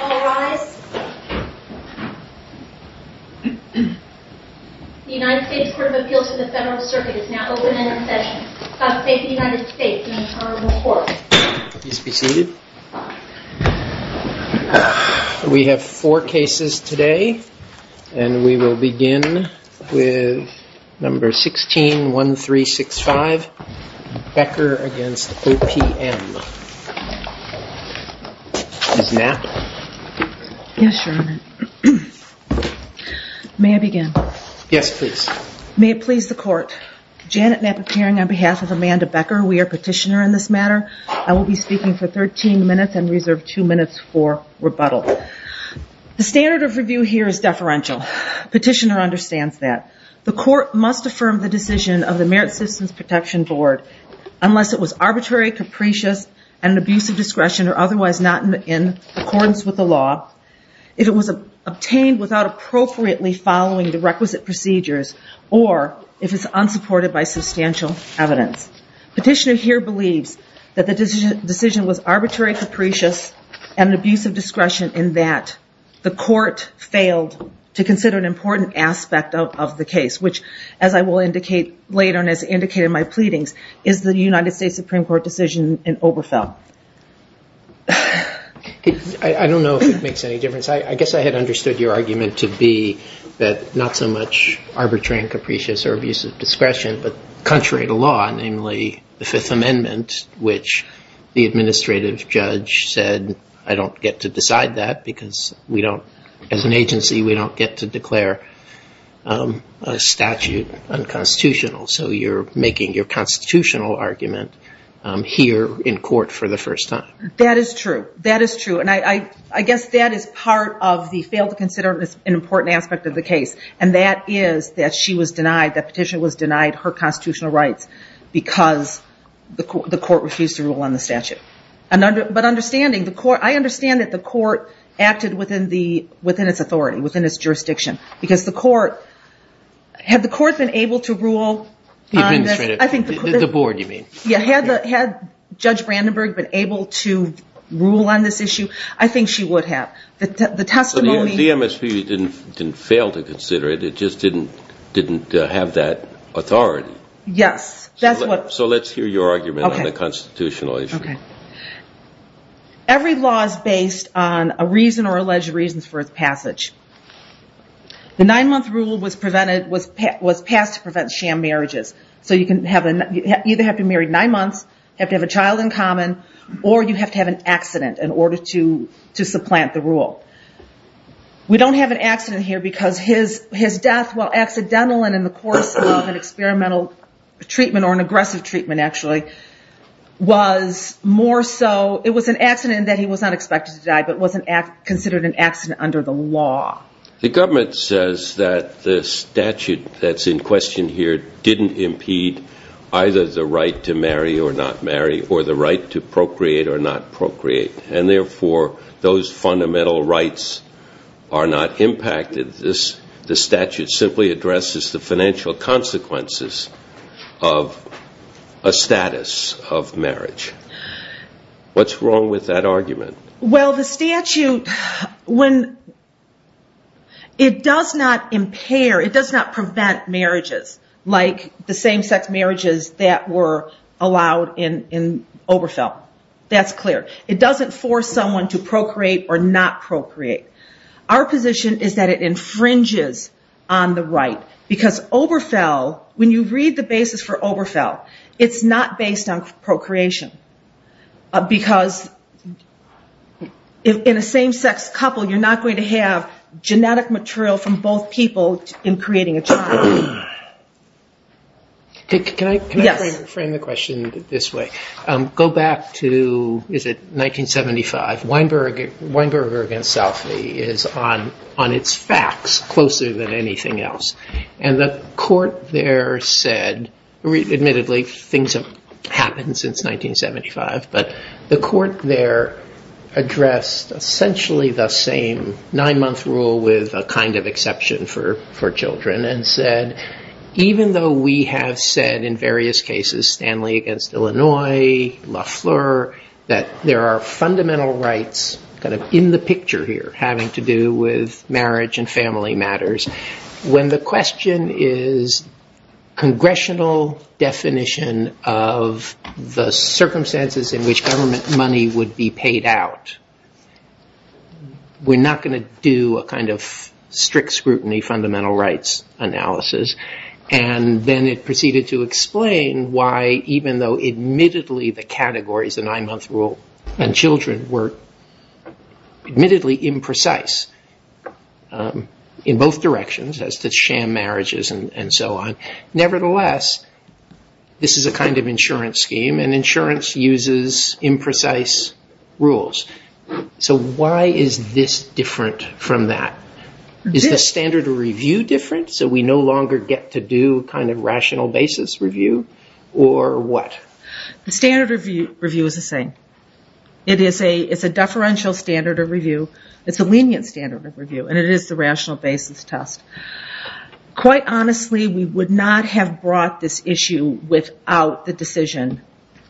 All rise. The United States Court of Appeals to the Federal Circuit is now open for session. I thank the United States and the Honorable Court. Please be seated. We have four cases today, and we will begin with number 161365, Becker v. OPM. Ms. Knapp? Yes, Your Honor. May I begin? Yes, please. May it please the Court. Janet Knapp appearing on behalf of Amanda Becker. We are petitioner in this matter. I will be speaking for 13 minutes and reserve two minutes for rebuttal. The standard of review here is deferential. Petitioner understands that. The Court must affirm the decision of the Merit Citizens Protection Board unless it was arbitrary, capricious, and an abuse of discretion or otherwise not in accordance with the law. If it was obtained without appropriately following the requisite procedures, or if it's unsupported by substantial evidence. Petitioner here believes that the decision was arbitrary, capricious, and an abuse of discretion, and that the Court failed to consider an important aspect of the case, which, as I will indicate later and as indicated in my pleadings, is the United States Supreme Court decision in Oberfeld. I don't know if it makes any difference. I guess I had understood your argument to be that not so much arbitrary and capricious or abuse of discretion, but contrary to law, namely the Fifth Amendment, which the administrative judge said, I don't get to decide that because we don't, as an agency, we don't get to declare a statute unconstitutional. So you're making your constitutional argument here in court for the first time. That is true. That is true, and I guess that is part of the fail to consider an important aspect of the case, and that is that she was denied, that Petitioner was denied her constitutional rights because the Court refused to rule on the statute. But understanding, I understand that the Court acted within its authority, within its jurisdiction, because the Court, had the Court been able to rule on this. The administrative, the board you mean. Yeah, had Judge Brandenburg been able to rule on this issue, I think she would have. The testimony. The MSP didn't fail to consider it, it just didn't have that authority. Yes, that's what. So let's hear your argument on the constitutional issue. Every law is based on a reason or alleged reasons for its passage. The nine-month rule was passed to prevent sham marriages. So you either have to be married nine months, have to have a child in common, or you have to have an accident in order to supplant the rule. We don't have an accident here because his death, while accidental and in the course of an experimental treatment, or an aggressive treatment actually, was more so, it was an accident in that he was not expected to die, but was considered an accident under the law. The government says that the statute that's in question here didn't impede either the right to marry or not marry, or the right to procreate or not procreate. And therefore, those fundamental rights are not impacted. This statute simply addresses the financial consequences of a status of marriage. What's wrong with that argument? Well, the statute, when it does not impair, it does not prevent marriages, like the same-sex marriages that were allowed in Oberfeld. That's clear. It doesn't force someone to procreate or not procreate. Our position is that it infringes on the right because Oberfeld, when you read the basis for Oberfeld, it's not based on procreation because in a same-sex couple, you're not going to have genetic material from both people in creating a child. Can I frame the question this way? Go back to, is it 1975? Weinberg against Southley is on its facts closer than anything else. And the court there said, admittedly, things have happened since 1975, but the court there addressed essentially the same nine-month rule with a kind of exception for children and said even though we have said in various cases, Stanley against Illinois, Lafleur, that there are fundamental rights kind of in the picture here having to do with marriage and family matters, when the question is congressional definition of the circumstances in which government money would be paid out, we're not going to do a kind of strict scrutiny fundamental rights analysis. And then it proceeded to explain why even though admittedly the categories, the nine-month rule and children were admittedly imprecise in both directions as to sham marriages and so on, nevertheless this is a kind of insurance scheme and insurance uses imprecise rules. So why is this different from that? Is the standard of review different so we no longer get to do kind of rational basis review or what? The standard review is the same. It is a deferential standard of review. It's a lenient standard of review and it is the rational basis test. Quite honestly, we would not have brought this issue without the decision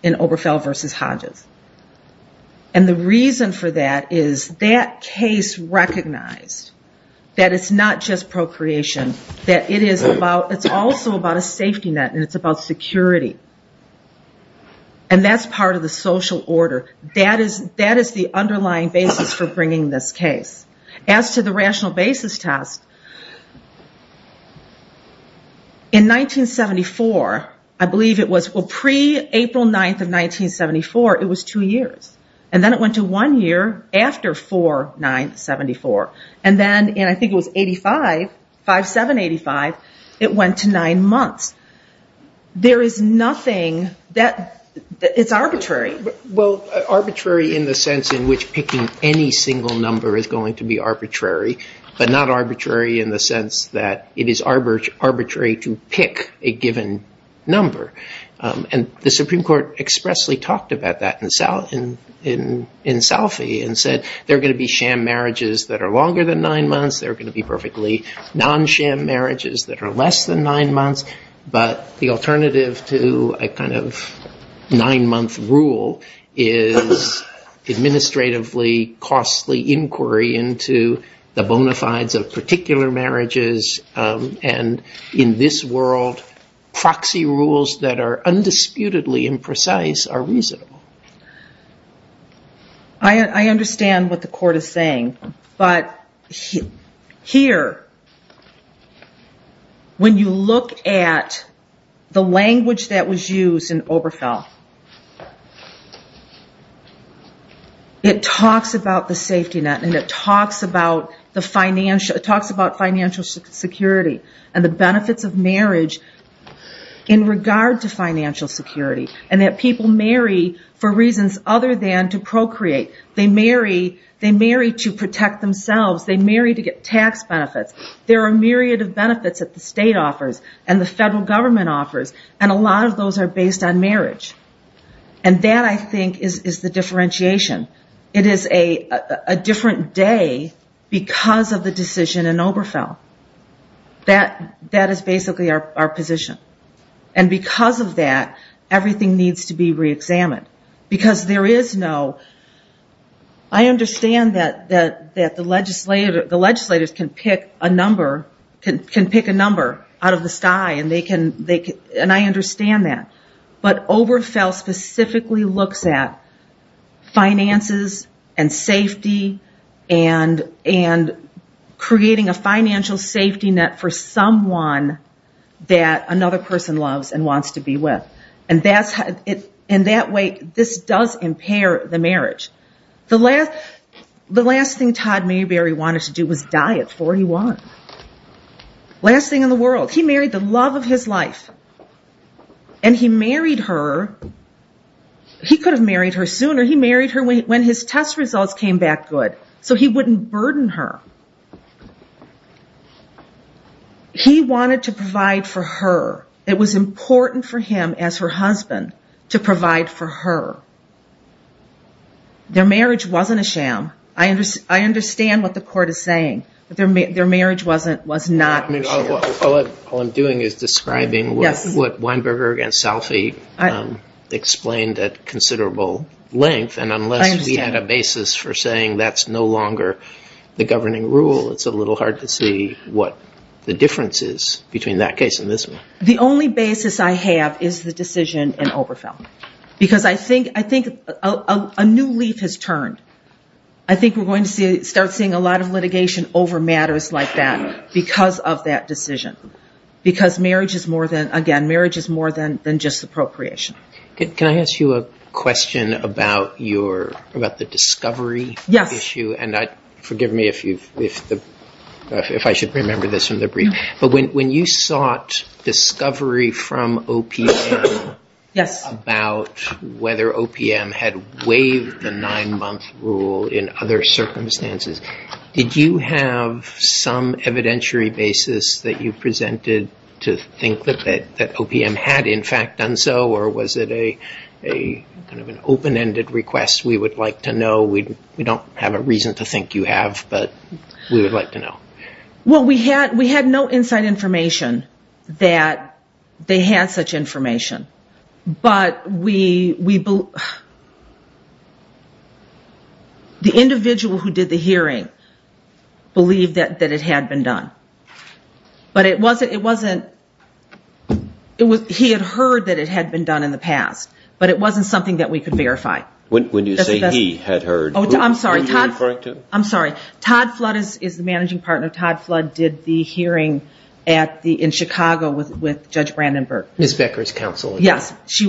in Oberfell versus Hodges. And the reason for that is that case recognized that it's not just procreation, that it's also about a safety net and it's about security. And that's part of the social order. That is the underlying basis for bringing this case. As to the rational basis test, in 1974, I believe it was pre-April 9th of 1974, it was two years. And then it went to one year after 4-9-74. And then I think it was 85, 5-7-85, it went to nine months. There is nothing that is arbitrary. Well, arbitrary in the sense in which picking any single number is going to be arbitrary, but not arbitrary in the sense that it is arbitrary to pick a given number. And the Supreme Court expressly talked about that in Salfie and said there are going to be sham marriages that are longer than nine months. There are going to be perfectly non-sham marriages that are less than nine months. But the alternative to a kind of nine-month rule is administratively costly inquiry into the bona fides of particular marriages. And in this world, proxy rules that are undisputedly imprecise are reasonable. I understand what the court is saying. But here, when you look at the language that was used in Oberfeld, it talks about the safety net and it talks about financial security and the benefits of marriage in regard to financial security and that people marry for reasons other than to procreate. They marry to protect themselves. They marry to get tax benefits. There are a myriad of benefits that the state offers and the federal government offers, and a lot of those are based on marriage. And that, I think, is the differentiation. It is a different day because of the decision in Oberfeld. That is basically our position. And because of that, everything needs to be reexamined. I understand that the legislators can pick a number out of the sky, and I understand that. But Oberfeld specifically looks at finances and safety and creating a financial safety net for someone that another person loves and wants to be with. And that way, this does impair the marriage. The last thing Todd Mayberry wanted to do was die at 41. Last thing in the world. He married the love of his life. And he married her. He could have married her sooner. He married her when his test results came back good so he wouldn't burden her. He wanted to provide for her. It was important for him as her husband to provide for her. Their marriage wasn't a sham. I understand what the court is saying. Their marriage was not a sham. All I'm doing is describing what Weinberger against Salfie explained at considerable length, and unless we had a basis for saying that's no longer the governing rule, it's a little hard to see what the difference is between that case and this one. The only basis I have is the decision in Oberfeld. Because I think a new leaf has turned. I think we're going to start seeing a lot of litigation over matters like that because of that decision. Because, again, marriage is more than just appropriation. Can I ask you a question about the discovery issue? Yes. And forgive me if I should remember this from the brief, but when you sought discovery from OPM about whether OPM had waived the nine-month rule in other circumstances, did you have some evidentiary basis that you presented to think that OPM had, in fact, done so, or was it kind of an open-ended request? We would like to know. We don't have a reason to think you have, but we would like to know. Well, we had no inside information that they had such information, but the individual who did the hearing believed that it had been done. But it wasn't he had heard that it had been done in the past, but it wasn't something that we could verify. When you say he had heard, who were you referring to? I'm sorry. Todd Flood is the managing partner. Todd Flood did the hearing in Chicago with Judge Brandon Burke. Ms. Becker's counsel. Yes. He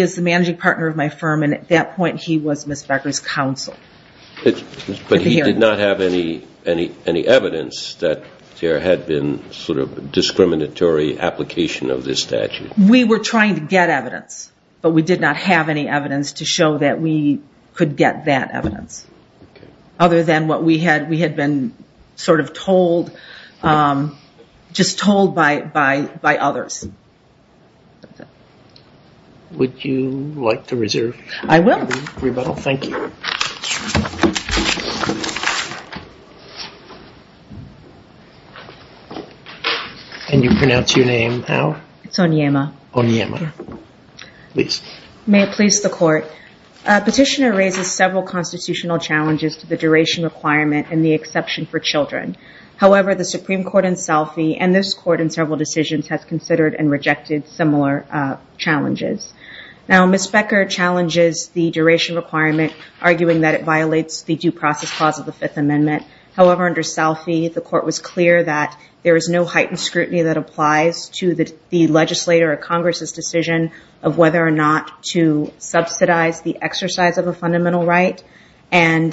is the managing partner of my firm, and at that point he was Ms. Becker's counsel. But he did not have any evidence that there had been sort of discriminatory application of this statute. We were trying to get evidence, but we did not have any evidence to show that we could get that evidence, other than what we had been sort of told, just told by others. Would you like to reserve your rebuttal? I will. Thank you. Can you pronounce your name now? It's Onyema. Onyema. Please. May it please the Court. Petitioner raises several constitutional challenges to the duration requirement and the exception for children. However, the Supreme Court in Selphie and this Court in several decisions has considered and rejected similar challenges. Now, Ms. Becker challenges the duration requirement, arguing that it violates the due process clause of the Fifth Amendment. However, under Selphie, the Court was clear that there is no heightened scrutiny that applies to the legislator or Congress' decision of whether or not to subsidize the exercise of a fundamental right, and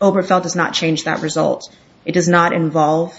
Oberfeld does not change that result. It does not involve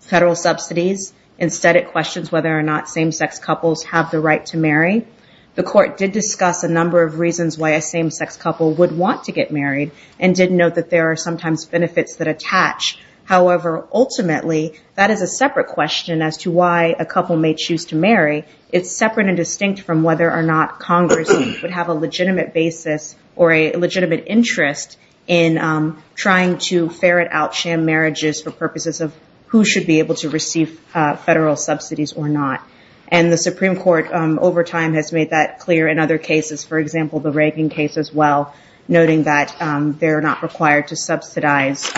federal subsidies. Instead, it questions whether or not same-sex couples have the right to marry. The Court did discuss a number of reasons why a same-sex couple would want to get married and did note that there are sometimes benefits that attach. However, ultimately, that is a separate question as to why a couple may choose to marry. It's separate and distinct from whether or not Congress would have a legitimate basis or a legitimate interest in trying to ferret out sham marriages for purposes of who should be able to receive federal subsidies or not. The Supreme Court, over time, has made that clear in other cases, for example, the Reagan case as well, noting that they're not required to subsidize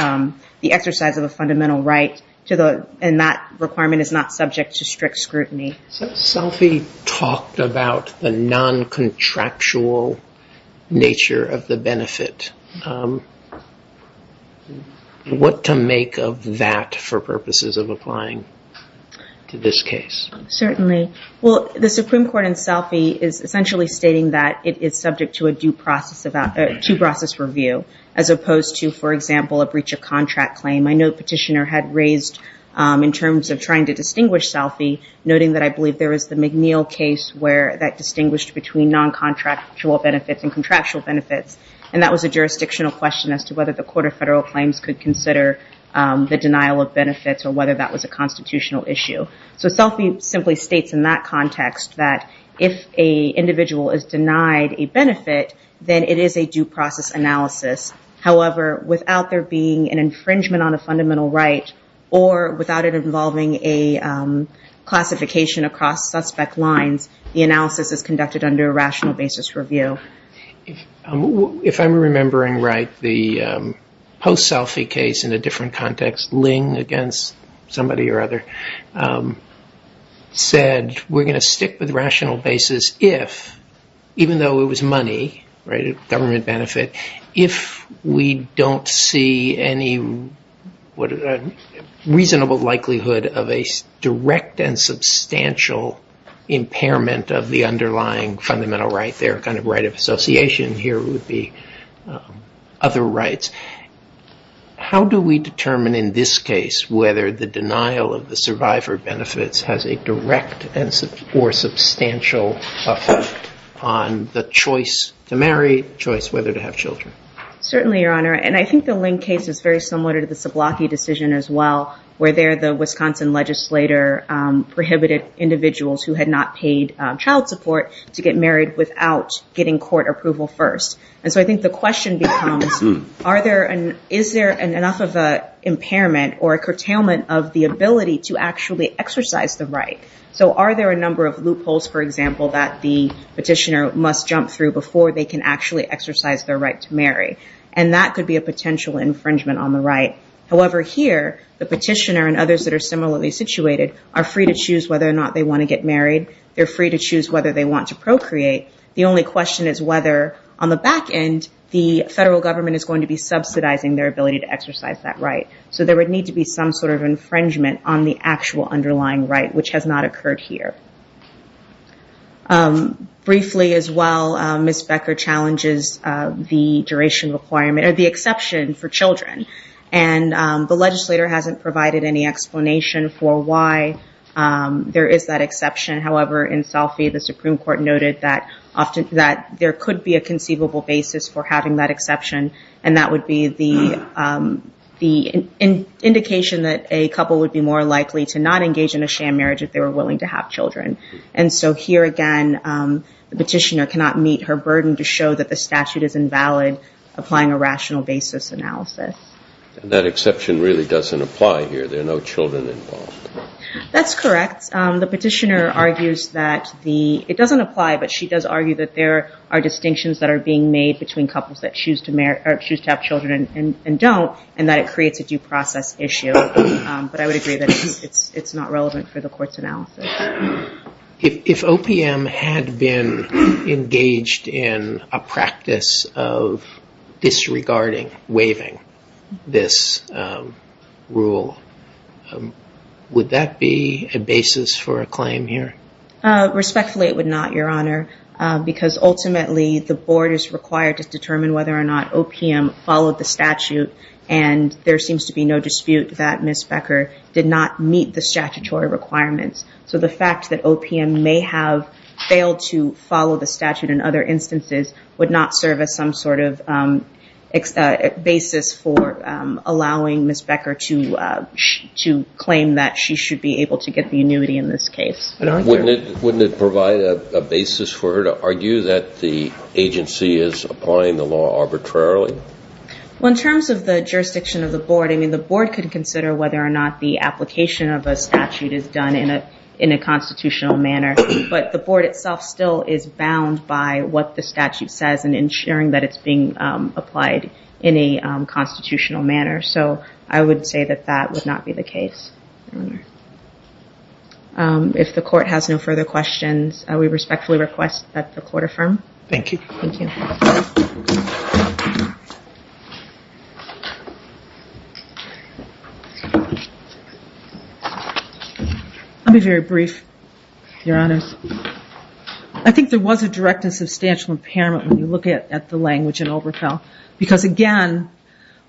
the exercise of a fundamental right, and that requirement is not subject to strict scrutiny. Selphie talked about the non-contractual nature of the benefit. What to make of that for purposes of applying to this case? Certainly. Well, the Supreme Court in Selphie is essentially stating that it is subject to a due process review as opposed to, for example, a breach of contract claim. I know the petitioner had raised, in terms of trying to distinguish Selphie, noting that I believe there was the McNeil case where that distinguished between non-contractual benefits and contractual benefits, and that was a jurisdictional question as to whether the Court of Federal Claims could consider the denial of benefits or whether that was a constitutional issue. So Selphie simply states in that context that if an individual is denied a benefit, then it is a due process analysis. However, without there being an infringement on a fundamental right or without it involving a classification across suspect lines, the analysis is conducted under a rational basis review. If I'm remembering right, the post-Selphie case in a different context, against somebody or other, said we're going to stick with rational basis if, even though it was money, right, a government benefit, if we don't see any reasonable likelihood of a direct and substantial impairment of the underlying fundamental right, their kind of right of association, here would be other rights. How do we determine in this case whether the denial of the survivor benefits has a direct or substantial effect on the choice to marry, the choice whether to have children? Certainly, Your Honor. And I think the Link case is very similar to the Sablocki decision as well, where there the Wisconsin legislator prohibited individuals who had not paid child support to get married without getting court approval first. And so I think the question becomes, is there enough of an impairment or a curtailment of the ability to actually exercise the right? So are there a number of loopholes, for example, that the petitioner must jump through before they can actually exercise their right to marry? And that could be a potential infringement on the right. However, here, the petitioner and others that are similarly situated are free to choose whether or not they want to get married. They're free to choose whether they want to procreate. The only question is whether, on the back end, the federal government is going to be subsidizing their ability to exercise that right. So there would need to be some sort of infringement on the actual underlying right, which has not occurred here. Briefly as well, Ms. Becker challenges the duration requirement, or the exception for children. And the legislator hasn't provided any explanation for why there is that exception. However, in Salfie, the Supreme Court noted that there could be a conceivable basis for having that exception, and that would be the indication that a couple would be more likely to not engage in a sham marriage if they were willing to have children. And so here again, the petitioner cannot meet her burden to show that the statute is invalid, applying a rational basis analysis. And that exception really doesn't apply here. There are no children involved. That's correct. The petitioner argues that it doesn't apply, but she does argue that there are distinctions that are being made between couples that choose to have children and don't, and that it creates a due process issue. But I would agree that it's not relevant for the court's analysis. If OPM had been engaged in a practice of disregarding, waiving this rule, would that be a basis for a claim here? Respectfully, it would not, Your Honor, because ultimately the board is required to determine whether or not OPM followed the statute, and there seems to be no dispute that Ms. Becker did not meet the statutory requirements. So the fact that OPM may have failed to follow the statute in other instances would not serve as some sort of basis for allowing Ms. Becker to claim that she should be able to get the annuity in this case. Wouldn't it provide a basis for her to argue that the agency is applying the law arbitrarily? Well, in terms of the jurisdiction of the board, I mean the board could consider whether or not the application of a statute is done in a constitutional manner, but the board itself still is bound by what the statute says and ensuring that it's being applied in a constitutional manner. So I would say that that would not be the case, Your Honor. If the court has no further questions, I would respectfully request that the court affirm. Thank you. I'll be very brief, Your Honors. I think there was a direct and substantial impairment when you look at the language in Oberfell, because, again,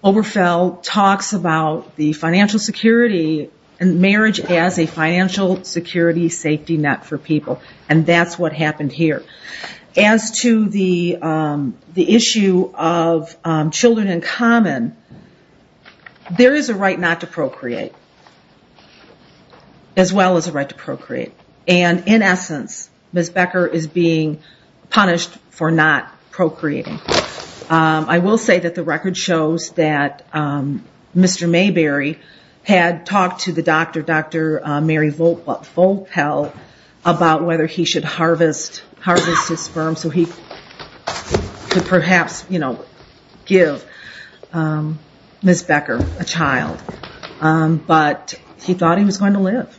Oberfell talks about the financial security and marriage as a financial security safety net for people, and that's what happened here. As to the issue of children in common, there is a right not to procreate, as well as a right to procreate. And, in essence, Ms. Becker is being punished for not procreating. I will say that the record shows that Mr. Mayberry had talked to the doctor, Dr. Mary Volpel, about whether he should harvest his sperm so he could perhaps give Ms. Becker a child. But he thought he was going to live.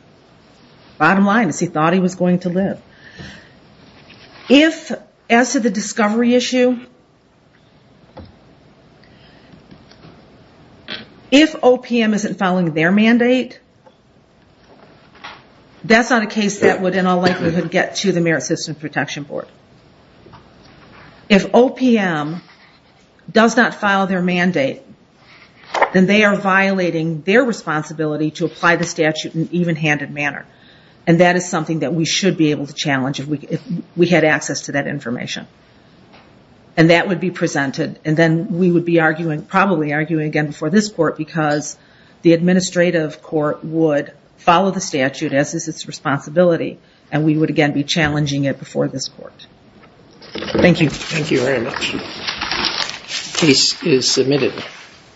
Bottom line is he thought he was going to live. As to the discovery issue, if OPM isn't following their mandate, that's not a case that would, in all likelihood, get to the Merit System Protection Board. If OPM does not file their mandate, then they are violating their responsibility to apply the statute in an even-handed manner, and that is something that we should be able to challenge if we had access to that information. And that would be presented, and then we would be arguing, probably arguing again before this court, because the administrative court would follow the statute as is its responsibility, and we would again be challenging it before this court. Thank you. Thank you very much. Case is submitted.